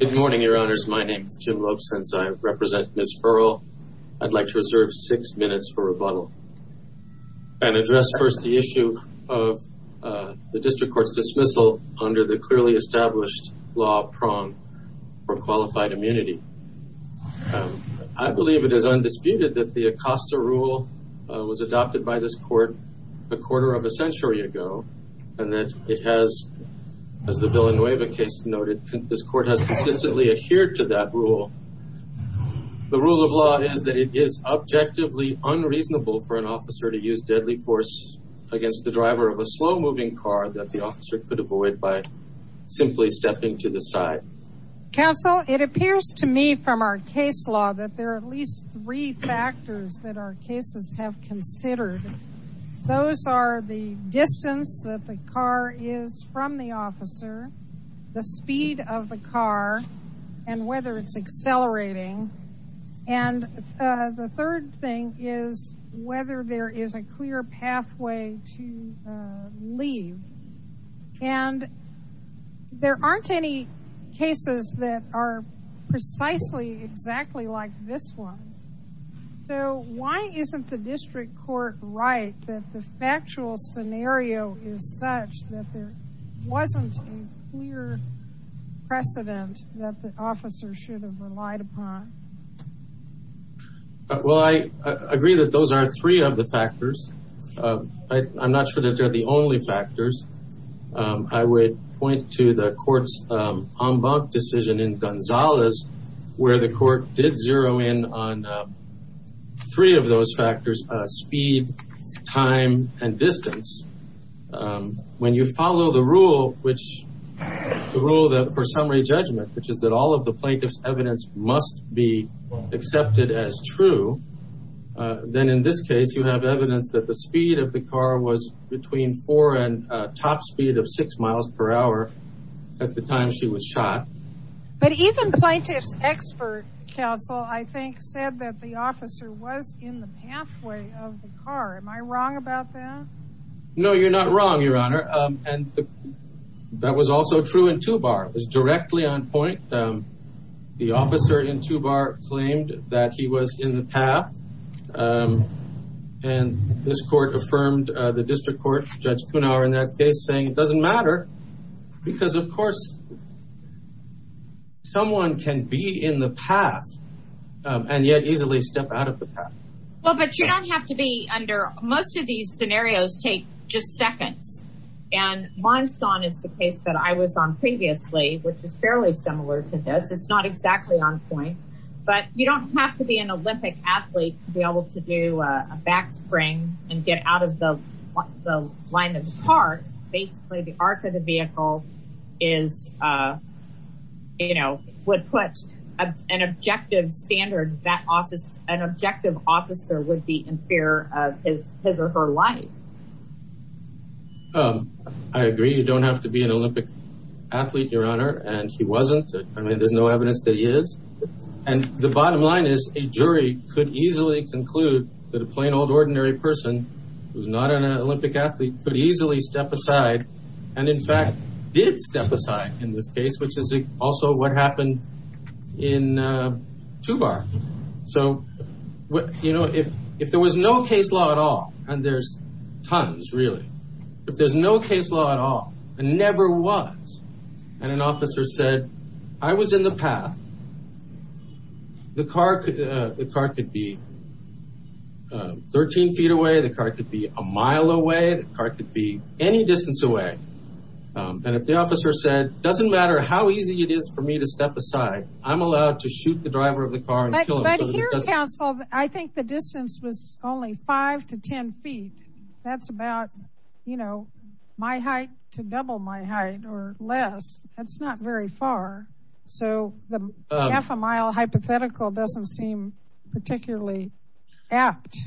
Good morning, Your Honors. My name is Jim Lopes. Since I represent Ms. Earl, I'd like to reserve six minutes for rebuttal and address first the issue of the District Court's dismissal under the clearly established law prong for qualified immunity. I believe it is undisputed that the Acosta Rule was adopted by this Court a quarter of a century ago and that it has, as the Villanueva case noted, this Court has consistently adhered to that rule. The rule of law is that it is objectively unreasonable for an officer to use deadly force against the driver of a slow-moving car that the officer could avoid by simply stepping to the side. Counsel, it appears to me from our case law that there are at least three factors that our cases have considered. Those are the distance that the car is from the officer, the speed of the car, and whether it's accelerating. And the third thing is whether there is a clear pathway to leave. And there aren't any cases that are precisely exactly like this one. So why isn't the District Court right that the factual scenario is such that there wasn't a clear precedent that the officer should have relied upon? Well, I agree that those are three of the factors. I'm not sure that they're the only factors. I would point to the Court's en banc decision in Gonzales where the Court did zero in on three of those factors, speed, time, and distance. When you follow the rule for summary judgment, which is that all of the plaintiff's evidence must be accepted as true, then in this case, you have evidence that the speed of the car was between four and a top speed of six miles per hour at the time she was shot. But even plaintiff's expert counsel, I think, said that the officer was in the pathway of the car. Am I wrong about that? No, you're not wrong, Your Honor. And that was also true in Tubar. It was directly on point. The officer in Tubar claimed that he was in the path, and this Court affirmed the District Court, Judge Kunauer, in that case, saying it doesn't matter because, of course, someone can be in the path and yet easily step out of the path. Well, but you don't have to be under... Most of these scenarios take just seconds, and Monson is the case that I was on previously, which is fairly similar to this. It's not exactly on point, but you don't have to be an Olympic athlete to be able to do a back spring and get out of the line of the car. Basically, the arc of the vehicle is, you know, would put an objective standard that an objective officer would be in fear of his or her life. I agree. You don't have to be an Olympic athlete, Your Honor, and he wasn't. I mean, there's no evidence that he is, and the bottom line is a jury could easily conclude that a plain old ordinary person who's not an Olympic athlete could easily step aside and, in fact, did step aside in this case, which is also what happened in Tubar. So, you know, if there was no case law at all, and there's tons, really, if there's no case law at all, and never was, and an officer said, I was in the path, the car could be 13 feet away, the car could be a mile away, the car could be any distance away, and if the officer said, doesn't matter how easy it is for me to step aside, I'm allowed to shoot the driver of the car and kill him. But here, counsel, I think the distance was only five to ten feet. That's about, you know, my height to double my height or less. That's not very far, so the half a mile hypothetical doesn't seem particularly apt.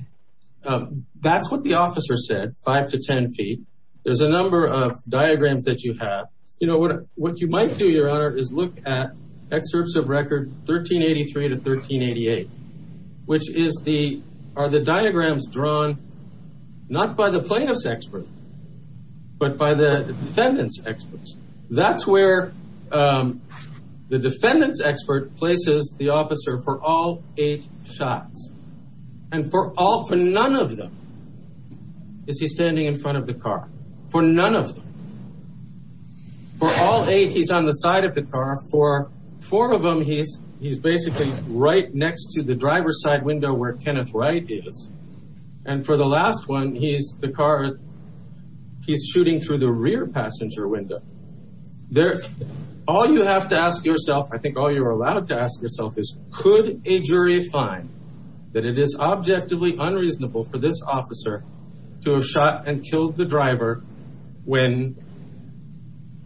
That's what the officer said, five to ten feet. There's a number of diagrams that you have. You know, what you might do, Your Honor, is look at excerpts of record 1383 to 1388, which are the diagrams drawn not by the plaintiff's expert, but by the defendant's experts. That's where the defendant's expert places the officer for all eight shots. And for all, for none of them, is he standing in front of the car. For none of them. For all eight, he's on the side of the car. For four of them, he's basically right next to the driver's side window where Kenneth Wright is. And for the last one, he's, the car, he's shooting through the rear passenger window. All you have to ask yourself, I think all you're allowed to ask yourself is, could a jury find that it is objectively unreasonable for this officer to have shot and killed the driver when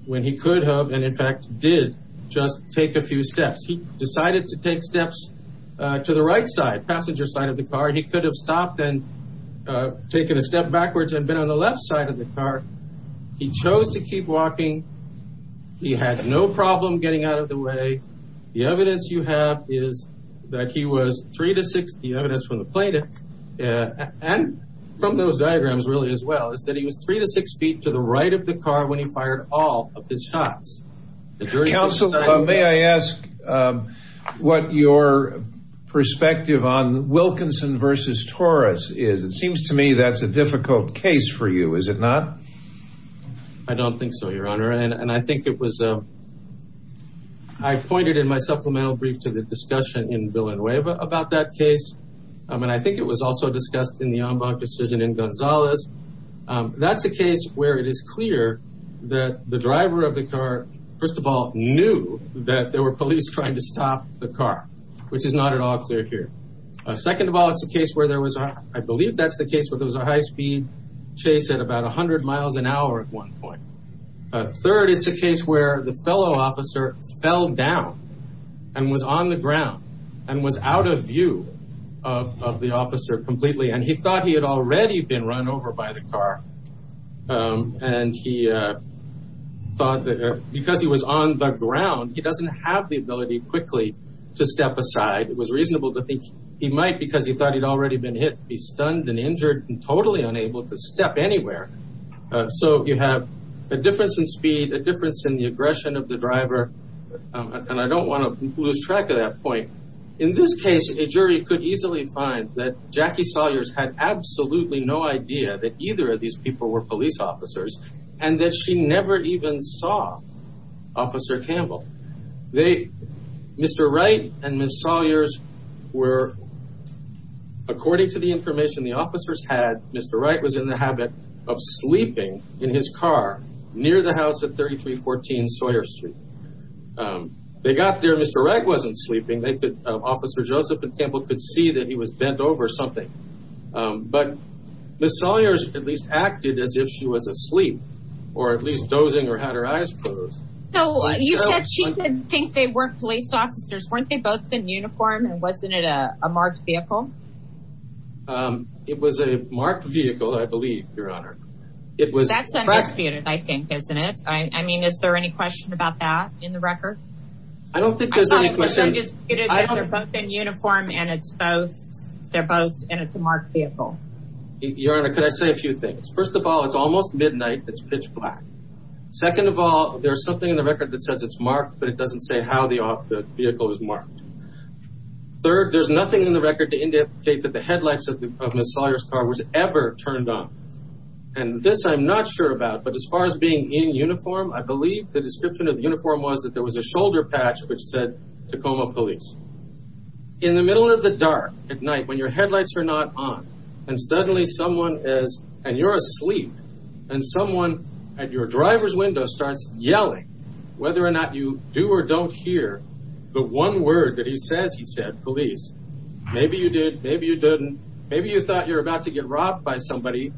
he could have, and in fact did, just take a few steps? He decided to take steps to the right side, passenger side of the car. He could have stopped and taken a step backwards and been on the left side of the car. He chose to keep walking. He had no problem getting out of the way. The evidence you have is that he was three to six, the evidence from the plaintiff, and from those diagrams really as well, is that he was three to six feet to the right of the car when he fired all of his shots. Counsel, may I ask what your perspective on Wilkinson Taurus is? It seems to me that's a difficult case for you, is it not? I don't think so, your honor. And I think it was, I pointed in my supplemental brief to the discussion in Villanueva about that case. And I think it was also discussed in the Ombak decision in Gonzalez. That's a case where it is clear that the driver of the car, first of all, knew that there were police trying to stop the car, which is not at all clear here. Second of all, it's a case where there was, I believe that's the case where there was a high-speed chase at about 100 miles an hour at one point. Third, it's a case where the fellow officer fell down and was on the ground and was out of view of the officer completely. And he thought he had already been run over by the car. And he thought that because he was on the ground, he doesn't have the ability quickly to step aside. It was reasonable to think he might, because he thought he'd already been hit, be stunned and injured and totally unable to step anywhere. So you have a difference in speed, a difference in the aggression of the driver. And I don't want to lose track of that point. In this case, a jury could easily find that Jackie Sawyers had absolutely no idea that either of these people were police officers and that she never even saw Officer Campbell. Mr. Wright and Ms. Sawyers were, according to the information the officers had, Mr. Wright was in the habit of sleeping in his car near the house at 3314 Sawyer Street. They got there, Mr. Wright wasn't sleeping. Officer Joseph and Campbell could see that he was bent over or something. But Ms. Sawyers at least acted as if she was asleep or at least dozing or had her eyes closed. So you said she didn't think they were police officers. Weren't they both in uniform and wasn't it a marked vehicle? It was a marked vehicle, I believe, Your Honor. That's undisputed, I think, isn't it? I mean, is there any question about that in the record? I don't think there's any question. It's undisputed that they're both in uniform and they're both in a marked vehicle. Your Honor, could I say a few things? First of all, it's almost midnight. It's pitch black. Second of all, there's something in the record that says it's marked, but it doesn't say how the vehicle was marked. Third, there's nothing in the record to indicate that the headlights of Ms. Sawyers' car was ever turned on. And this I'm not sure about, but as far as being in uniform, I believe the description of the shoulder patch which said, Tacoma Police. In the middle of the dark at night when your headlights are not on, and suddenly someone is, and you're asleep, and someone at your driver's window starts yelling, whether or not you do or don't hear, the one word that he says, he said, police. Maybe you did, maybe you didn't. Maybe you thought you were about to get robbed by somebody.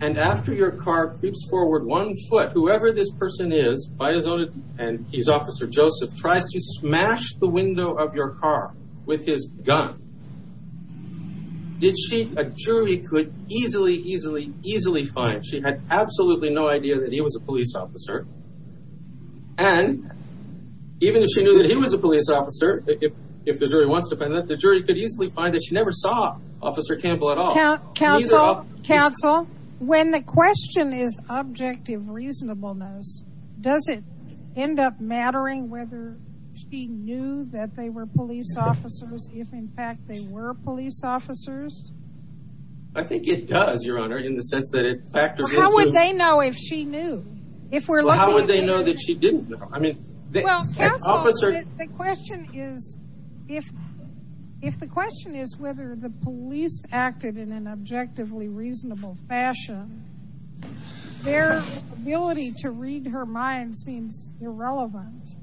And after your car creeps forward one foot, whoever this person is, by his own, and he's Officer Joseph, tries to smash the window of your car with his gun, did she, a jury could easily, easily, easily find. She had absolutely no idea that he was a police officer. And even if she knew that he was a police officer, if the jury wants to find that, the jury could easily find that she never saw Officer Campbell at all. Counsel, counsel, when the end up mattering whether she knew that they were police officers, if in fact they were police officers? I think it does, Your Honor, in the sense that it factors into. How would they know if she knew? If we're looking. How would they know that she didn't know? I mean, the officer. The question is, if, if the question is whether the police acted in an objectively reasonable fashion, their ability to read her mind seems irrelevant.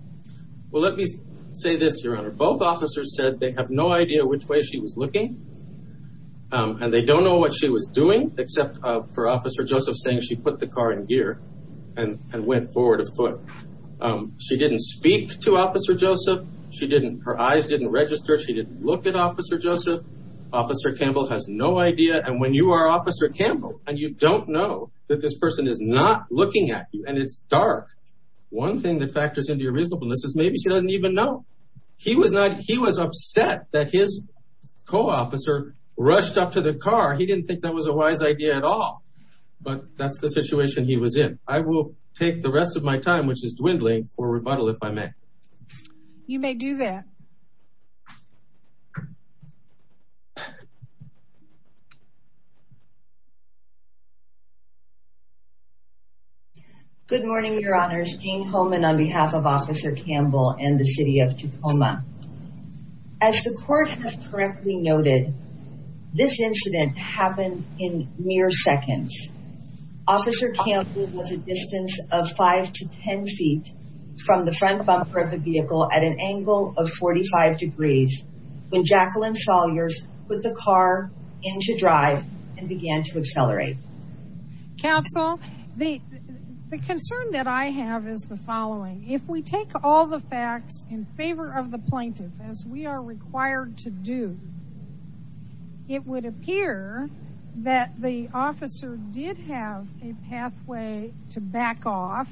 Well, let me say this, Your Honor. Both officers said they have no idea which way she was looking. And they don't know what she was doing, except for Officer Joseph saying she put the car in gear and went forward a foot. She didn't speak to Officer Joseph. She didn't, her eyes didn't register. She didn't look at and you don't know that this person is not looking at you and it's dark. One thing that factors into your reasonableness is maybe she doesn't even know. He was not, he was upset that his co-officer rushed up to the car. He didn't think that was a wise idea at all. But that's the situation he was in. I will take the rest of my time, which is dwindling, for rebuttal if I may. You may do that. Good morning, Your Honors. Jane Holman on behalf of Officer Campbell and the City of Tacoma. As the court has correctly noted, this incident happened in mere seconds. Officer Campbell was a distance of five to 10 feet from the front bumper of the vehicle at an angle of 45 degrees when Jacqueline Sawyers put the car into drive and began to accelerate. Counsel, the concern that I have is the following. If we take all the facts in favor of the plaintiff as we are required to do, it would appear that the officer did have a pathway to back off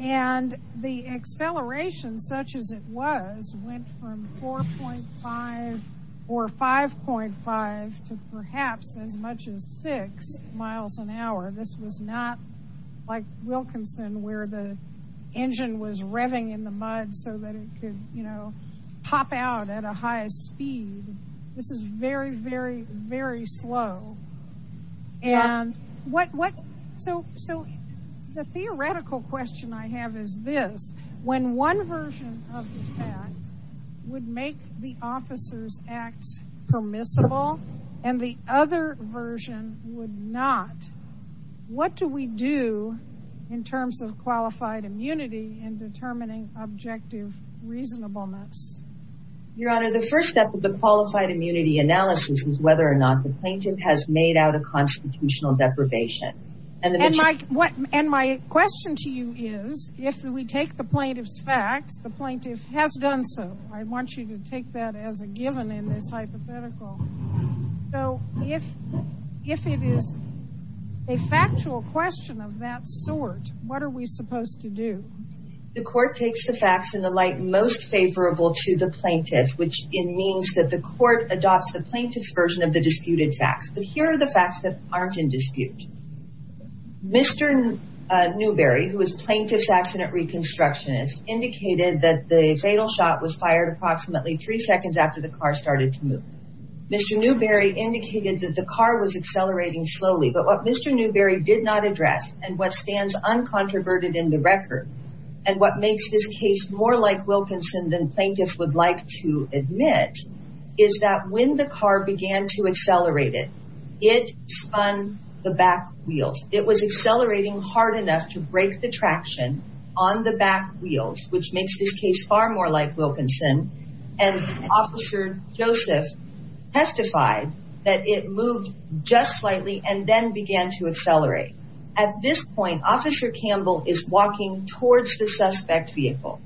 and the acceleration, such as it was, went from 4.5 or 5.5 to perhaps as much as six miles an hour. This was not like Wilkinson, where the engine was revving in the mud so that it could pop out at a high speed. This is very, very, very slow. The theoretical question I have is this. When one version of the fact would make the officer's acts permissible and the other version would not, what do we do in terms of qualified immunity and determining objective reasonableness? Your Honor, the first step of the qualified immunity analysis is whether or not the plaintiff has made out a constitutional deprivation. My question to you is, if we take the plaintiff's facts, the plaintiff has done so. I want you to take that as a given in this hypothetical. If it is a factual question of that sort, what are we supposed to do? The court takes the facts in the light most favorable to the plaintiff, which means that the court adopts the plaintiff's version of the disputed facts. But here are the facts that aren't in dispute. Mr. Newberry, who is a plaintiff's accident reconstructionist, indicated that the fatal shot was fired approximately three seconds after the car started to move. Mr. Newberry indicated that the car was accelerating slowly, but what Mr. Newberry did not address and what stands uncontroverted in the record and what makes this case more like Wilkinson than plaintiffs would like to admit is that when the car began to accelerate it, it spun the back wheels. It was accelerating hard enough to break the traction on the back wheels, which makes this case far more like Wilkinson. And Officer Joseph testified that it moved just slightly and then began to accelerate. At this point, Officer Campbell is walking towards the suspect vehicle.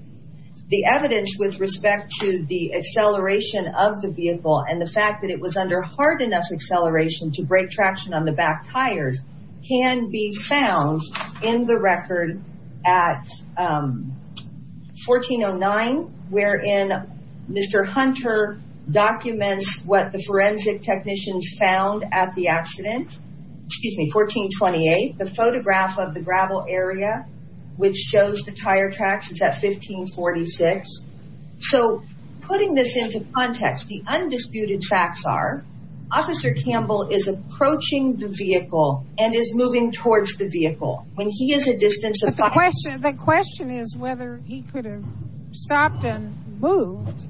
The evidence with respect to the acceleration of the vehicle and the fact that it was under hard enough acceleration to break traction on the back tires can be found in the record at 1409, wherein Mr. Hunter documents what the forensic technicians found at the accident. Excuse me, 1428, the photograph of the gravel area, which shows the tire tracks is at 1546. So putting this into context, the undisputed facts are Officer Campbell is approaching the vehicle and is moving towards the vehicle when he is a distance. The question is whether he could have stopped and moved,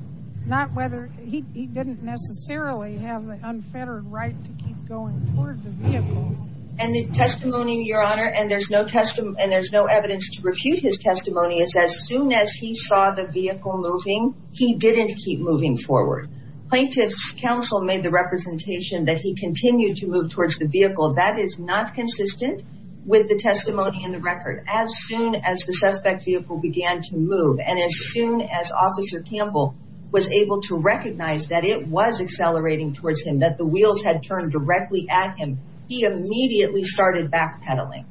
not whether he didn't necessarily have the unfettered right to keep going towards the vehicle. And the testimony, Your Honor, and there's no evidence to refute his testimony, is as soon as he saw the vehicle moving, he didn't keep moving forward. Plaintiff's counsel made the representation that he continued to move towards the vehicle. That is not consistent with the testimony in the record. As soon as the suspect vehicle began to move and as soon as Officer Campbell was able to recognize that it was accelerating towards him, that the vehicle was turning directly at him, he immediately started backpedaling.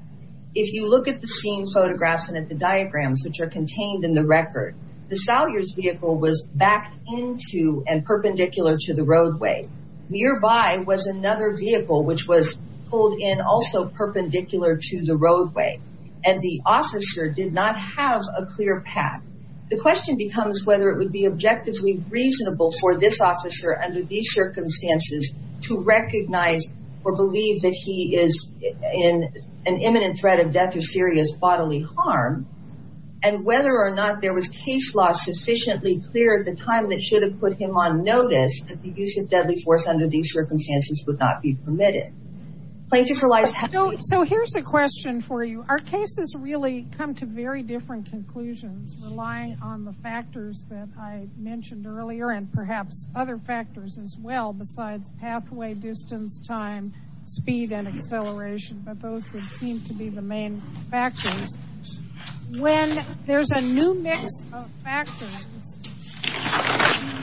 If you look at the scene photographs and at the diagrams which are contained in the record, the Sawyer's vehicle was backed into and perpendicular to the roadway. Nearby was another vehicle which was pulled in also perpendicular to the roadway. And the officer did not have a clear path. The question becomes whether it would be objectively reasonable for this officer under these circumstances to recognize or believe that he is in an imminent threat of death or serious bodily harm and whether or not there was case law sufficiently clear at the time that should have put him on notice that the use of deadly force under these circumstances would not be permitted. So here's a question for you. Our cases really come to very different conclusions relying on the pathway, distance, time, speed, and acceleration, but those would seem to be the main factors. When there's a new mix of factors,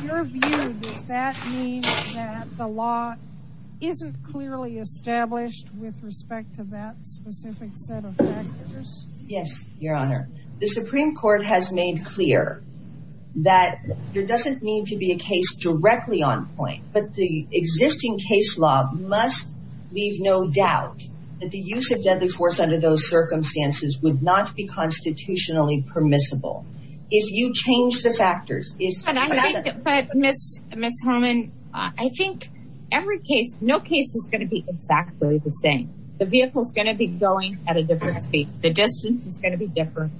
in your view, does that mean that the law isn't clearly established with respect to that specific set of factors? Yes, Your Honor. The Supreme Court has case law must leave no doubt that the use of deadly force under those circumstances would not be constitutionally permissible. If you change the factors. But Ms. Homan, I think every case, no case is going to be exactly the same. The vehicle is going to be going at a different speed. The distance is going to be different.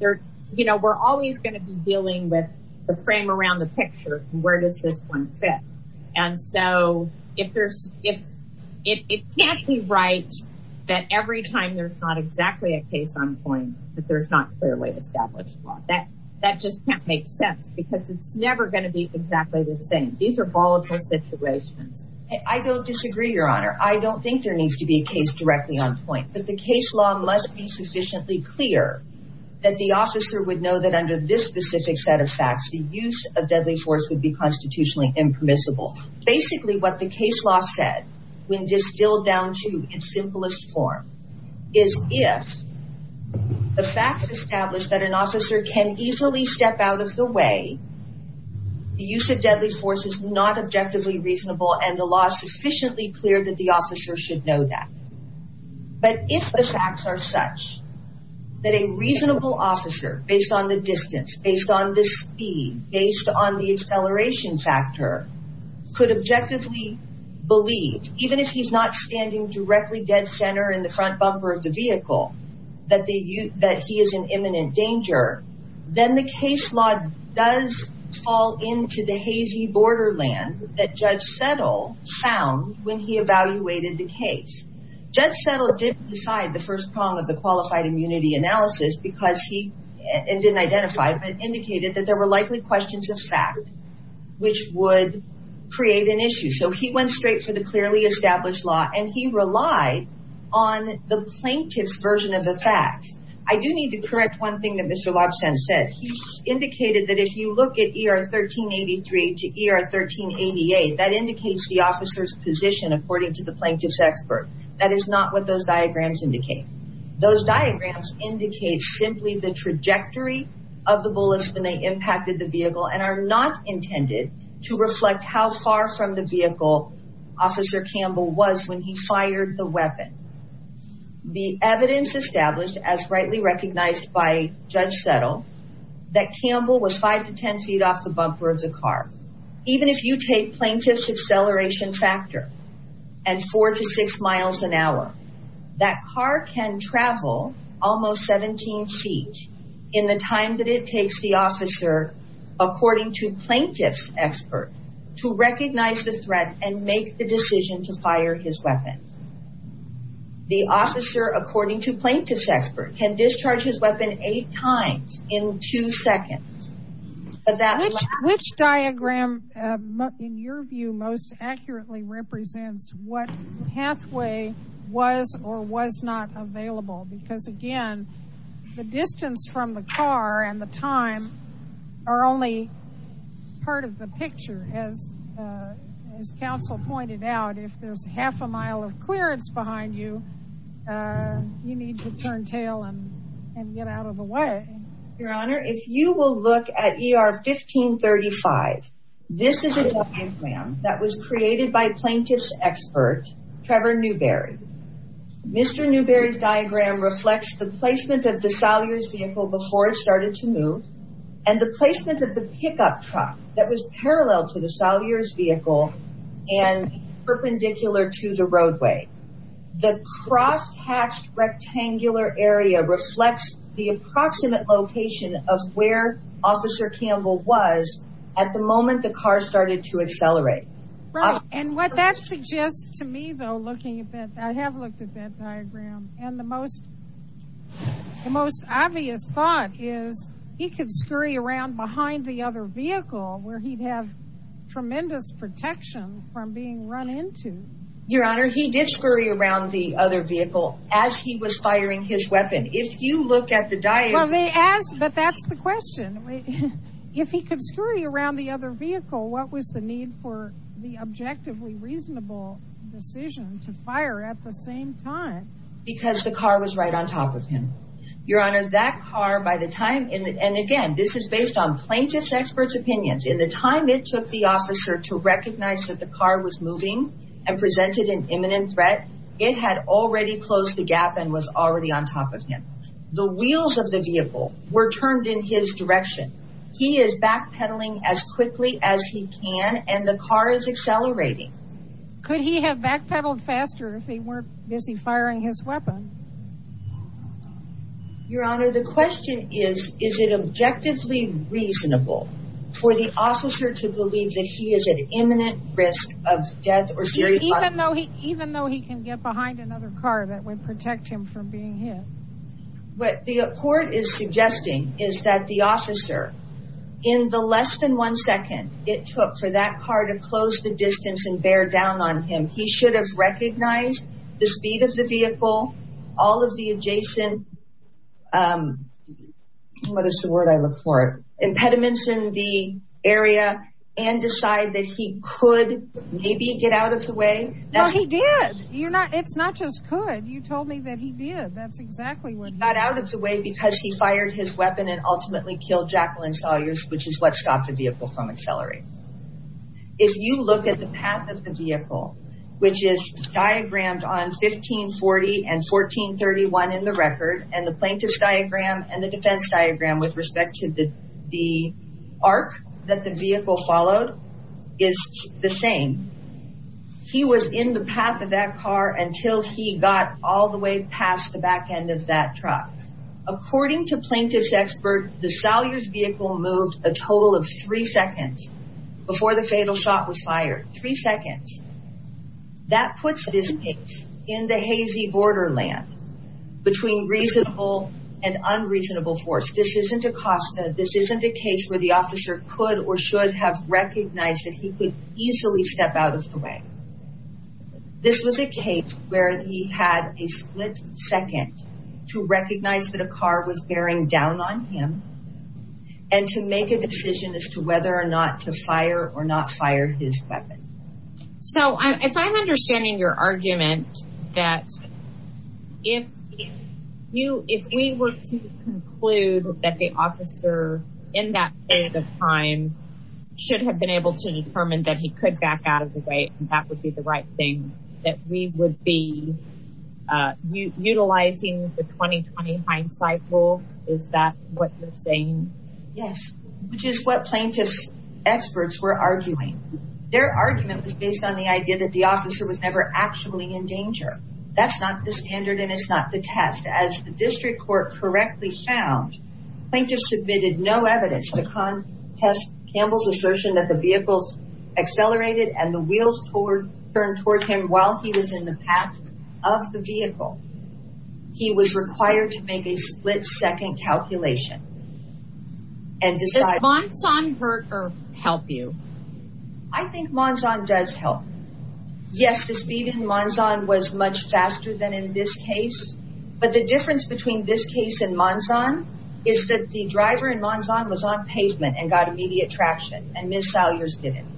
We're always going to be dealing with the frame around the picture. Where does this one fit? And so if there's, if it can't be right, that every time there's not exactly a case on point, that there's not clearly established law that that just can't make sense because it's never going to be exactly the same. These are volatile situations. I don't disagree, Your Honor. I don't think there needs to be a case directly on point, but the case law must be sufficiently clear that the officer would know that under this specific set of facts, the use of deadly force would be constitutionally impermissible. Basically, what the case law said, when distilled down to its simplest form, is if the facts established that an officer can easily step out of the way, the use of deadly force is not objectively reasonable and the law is sufficiently clear that the officer should know that. But if the facts are such that a reasonable officer, based on the distance, based on the speed, based on the acceleration factor, could objectively believe, even if he's not standing directly dead center in the front bumper of the vehicle, that he is in imminent danger, then the case law does fall into the hazy borderland that Judge Settle found when he evaluated the case. Judge Settle didn't decide the first prong of the qualified immunity analysis because he didn't identify it, but indicated that there were likely questions of fact which would create an issue. So he went straight for the clearly established law and he relied on the plaintiff's version of the facts. I do need to correct one thing that Mr. Lobson said. He indicated that if you look at ER 1383 to ER 1388, that indicates the officer's position according to the plaintiff's expert. That is not what those diagrams indicate. Those diagrams indicate simply the trajectory of the bullets when they impacted the vehicle and are not intended to reflect how far from the vehicle Officer Campbell was when he fired the weapon. The evidence established, as rightly recognized by Judge Settle, that Campbell was five to ten feet off the bumper of the car. Even if you take plaintiff's acceleration factor at four to six miles an hour, that car can travel almost 17 feet in the time that it takes the officer, according to plaintiff's expert, to recognize the threat and make the decision to fire his weapon. The officer, according to plaintiff's expert, can discharge his weapon eight times in two seconds. But which diagram, in your view, most accurately represents what pathway was or was not available? Because again, the distance from the car and the time are only part of the picture. As counsel pointed out, if there's half a mile of clearance behind you, you need to turn tail and get out of the way. Your Honor, if you will look at ER 1535, this is a diagram that was created by plaintiff's expert, Trevor Newberry. Mr. Newberry's diagram reflects the placement of the Salyer's vehicle before it started to move and the placement of the pickup truck that was parallel to the Salyer's vehicle and perpendicular to the roadway. The cross-hatched rectangular area reflects the approximate location of where Officer Campbell was at the moment the car started to accelerate. Right. And what that suggests to me, though, looking at that, I have looked at that diagram, and the most obvious thought is he could scurry around behind the other vehicle where he'd have around the other vehicle as he was firing his weapon. If you look at the diagram... Well, they asked, but that's the question. If he could scurry around the other vehicle, what was the need for the objectively reasonable decision to fire at the same time? Because the car was right on top of him. Your Honor, that car by the time... And again, this is based on plaintiff's expert's opinions. In the time it took the officer to recognize that car was moving and presented an imminent threat, it had already closed the gap and was already on top of him. The wheels of the vehicle were turned in his direction. He is backpedaling as quickly as he can, and the car is accelerating. Could he have backpedaled faster if he weren't busy firing his weapon? Your Honor, the question is, is it of death or serious... Even though he can get behind another car that would protect him from being hit. What the court is suggesting is that the officer, in the less than one second it took for that car to close the distance and bear down on him, he should have recognized the speed of the vehicle, all of the adjacent... What is the word I look for? Impediments in the area, and decide that he could maybe get out of the way. No, he did. You're not... It's not just could. You told me that he did. That's exactly what... Got out of the way because he fired his weapon and ultimately killed Jacqueline Sawyers, which is what stopped the vehicle from accelerating. If you look at the path of the vehicle, which is diagrammed on 1540 and 1431 in the record, and the plaintiff's diagram and the defense diagram with respect to the arc that the vehicle followed is the same. He was in the path of that car until he got all the way past the back end of that truck. According to plaintiff's expert, the Sawyers vehicle moved a total of three seconds before the fatal shot was fired. Three seconds. That puts this case in the hazy borderland between reasonable and unreasonable force. This isn't a costa. This isn't a case where the officer could or should have recognized that he could easily step out of the way. This was a case where he had a split second to recognize that a car was bearing down on him and to make a decision as to whether or not to fire or not fire his weapon. So if I'm understanding your argument that if you, if we were to conclude that the officer in that period of time should have been able to determine that he could back out of the way, that would be the right thing that we would be utilizing the 2020 hindsight rule. Is that what you're saying? Yes, which is what plaintiff's experts were arguing. Their argument was based on the idea that the officer was never actually in danger. That's not the standard and it's not the test. As the district court correctly found, plaintiff submitted no evidence to contest Campbell's assertion that the vehicles accelerated and the wheels turned toward him while he was in a split second calculation. Does Monzon hurt or help you? I think Monzon does help. Yes, the speed in Monzon was much faster than in this case, but the difference between this case and Monzon is that the driver in Monzon was on pavement and got immediate traction and Ms. Salyers didn't.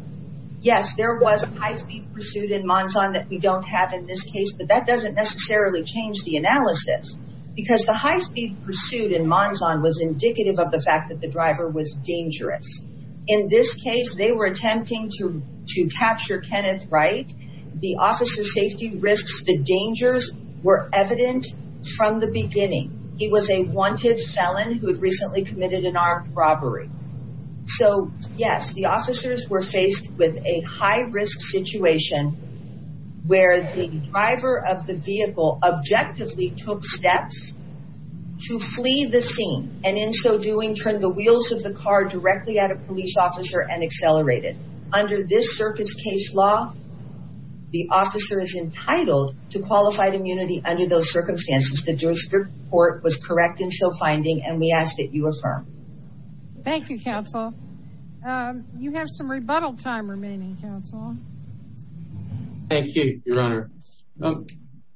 Yes, there was a high speed pursuit in Monzon that we don't have in this case, but that doesn't necessarily change the analysis because the high speed pursuit in Monzon was indicative of the fact that the driver was dangerous. In this case, they were attempting to capture Kenneth Wright. The officer's safety risks, the dangers were evident from the beginning. He was a wanted felon who had recently committed an armed robbery. So yes, the officers were faced with a high risk situation where the driver of the vehicle objectively took steps to flee the scene and in so doing turned the wheels of the car directly at a police officer and accelerated. Under this circuit's case law, the officer is entitled to qualified immunity under those circumstances. The district court was correct in so finding and we ask that you affirm. Thank you, counsel. You have some Thank you, Your Honor.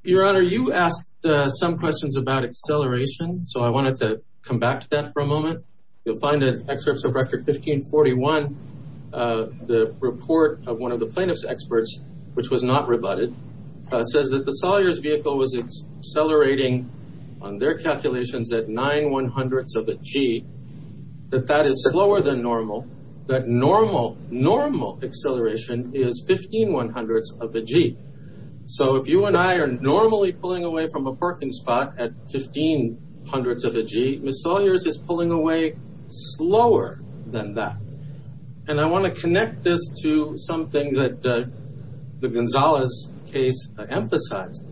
Your Honor, you asked some questions about acceleration, so I wanted to come back to that for a moment. You'll find in excerpts of Rector 1541, the report of one of the plaintiff's experts, which was not rebutted, says that the Salyers vehicle was accelerating on their calculations at nine one hundredths of a G, that that is slower than normal, that normal acceleration is 15 one hundredths of a G. So if you and I are normally pulling away from a parking spot at 15 hundredths of a G, Ms. Salyers is pulling away slower than that. And I want to connect this to something that the Gonzales case emphasized.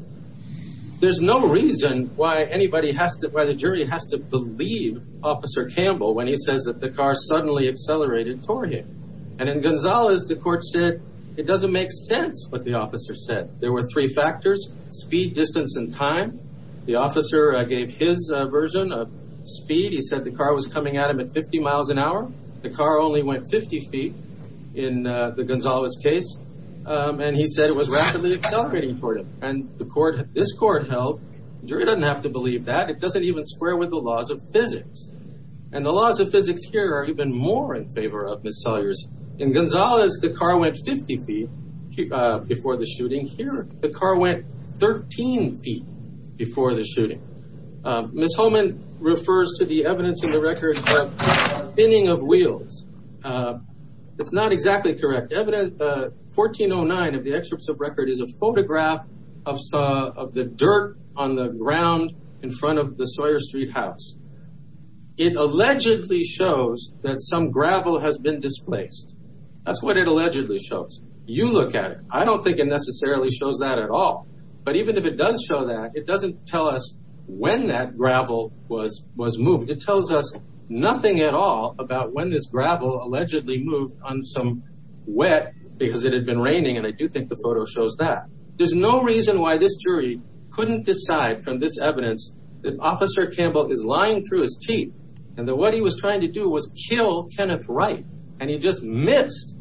There's no reason why anybody has to, why the jury has to believe Officer Campbell when he says that the car suddenly accelerated toward him. And in Gonzales, the court said it doesn't make sense what the officer said. There were three factors, speed, distance and time. The officer gave his version of speed. He said the car was coming at him at 50 miles an hour. The car only went 50 feet in the Gonzales case. And he said it was rapidly accelerating toward him. And the court, this court held jury doesn't have to believe that it doesn't even square with the laws of physics. And the laws of physics here are even more in Salyers. In Gonzales, the car went 50 feet before the shooting. Here, the car went 13 feet before the shooting. Ms. Homan refers to the evidence in the record for thinning of wheels. It's not exactly correct. 1409 of the excerpts of record is a photograph of the dirt on the ground in front of the Sawyer Street house. It allegedly shows that some gravel has been displaced. That's what it allegedly shows. You look at it. I don't think it necessarily shows that at all. But even if it does show that, it doesn't tell us when that gravel was was moved. It tells us nothing at all about when this gravel allegedly moved on some wet because it had been raining. And I do think the photo shows that there's no reason why this jury couldn't decide from this evidence that Officer Campbell is lying through his teeth and that what he was trying to do was kill Kenneth Wright. And he just missed.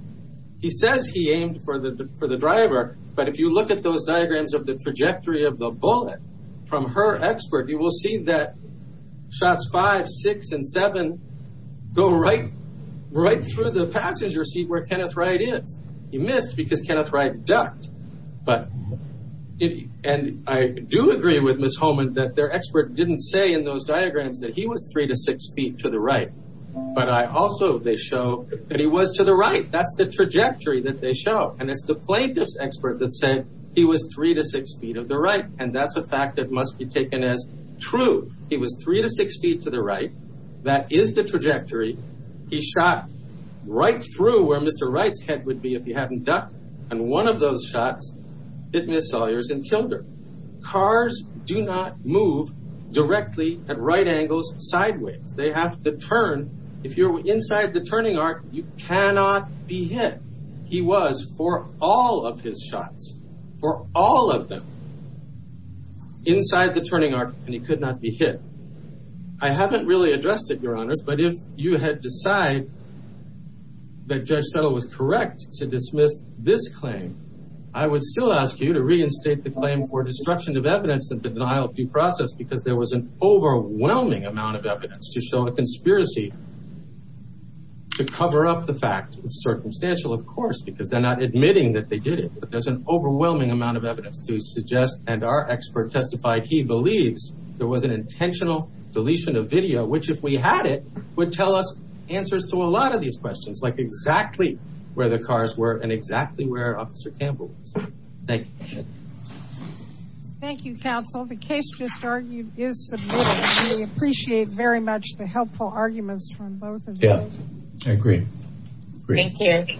He says he aimed for the for the driver. But if you look at those diagrams of the trajectory of the bullet from her expert, you will see that shots five, six and seven go right right through the passenger seat where Kenneth Wright is. He missed because Kenneth Wright ducked. But and I do agree with Miss Holman that their expert didn't say in those diagrams that he was three to six feet to the right. But I also they show that he was to the right. That's the trajectory that they show. And it's the plaintiff's expert that said he was three to six feet of the right. And that's a fact that must be taken as true. He was three to six feet to the right. That is the trajectory he shot right through where Mr. Wright's head would be if he hadn't ducked. And one of those shots hit Miss Sawyer's and killed her. Cars do not move directly at right angles sideways. They have to turn. If you're inside the turning arc, you cannot be hit. He was for all of his shots for all of them inside the turning arc and he could not be hit. I haven't really addressed it, Your Honors, but if you had to decide that Judge Settle was correct to dismiss this claim, I would still ask you to reinstate the claim for destruction of evidence and denial of due process because there was an overwhelming amount of evidence to show a conspiracy to cover up the fact. It's circumstantial, of course, because they're not admitting that they did it. But there's an overwhelming amount of evidence to suggest and our expert testified he believes there was an intentional deletion of video, which if we had it would tell us answers to a lot of these questions, like exactly where the cars were and exactly where Officer Campbell was. Thank you. Thank you, counsel. The case just argued is submitted. We appreciate very much the helpful arguments from both of you. Yeah, I agree. Thank you.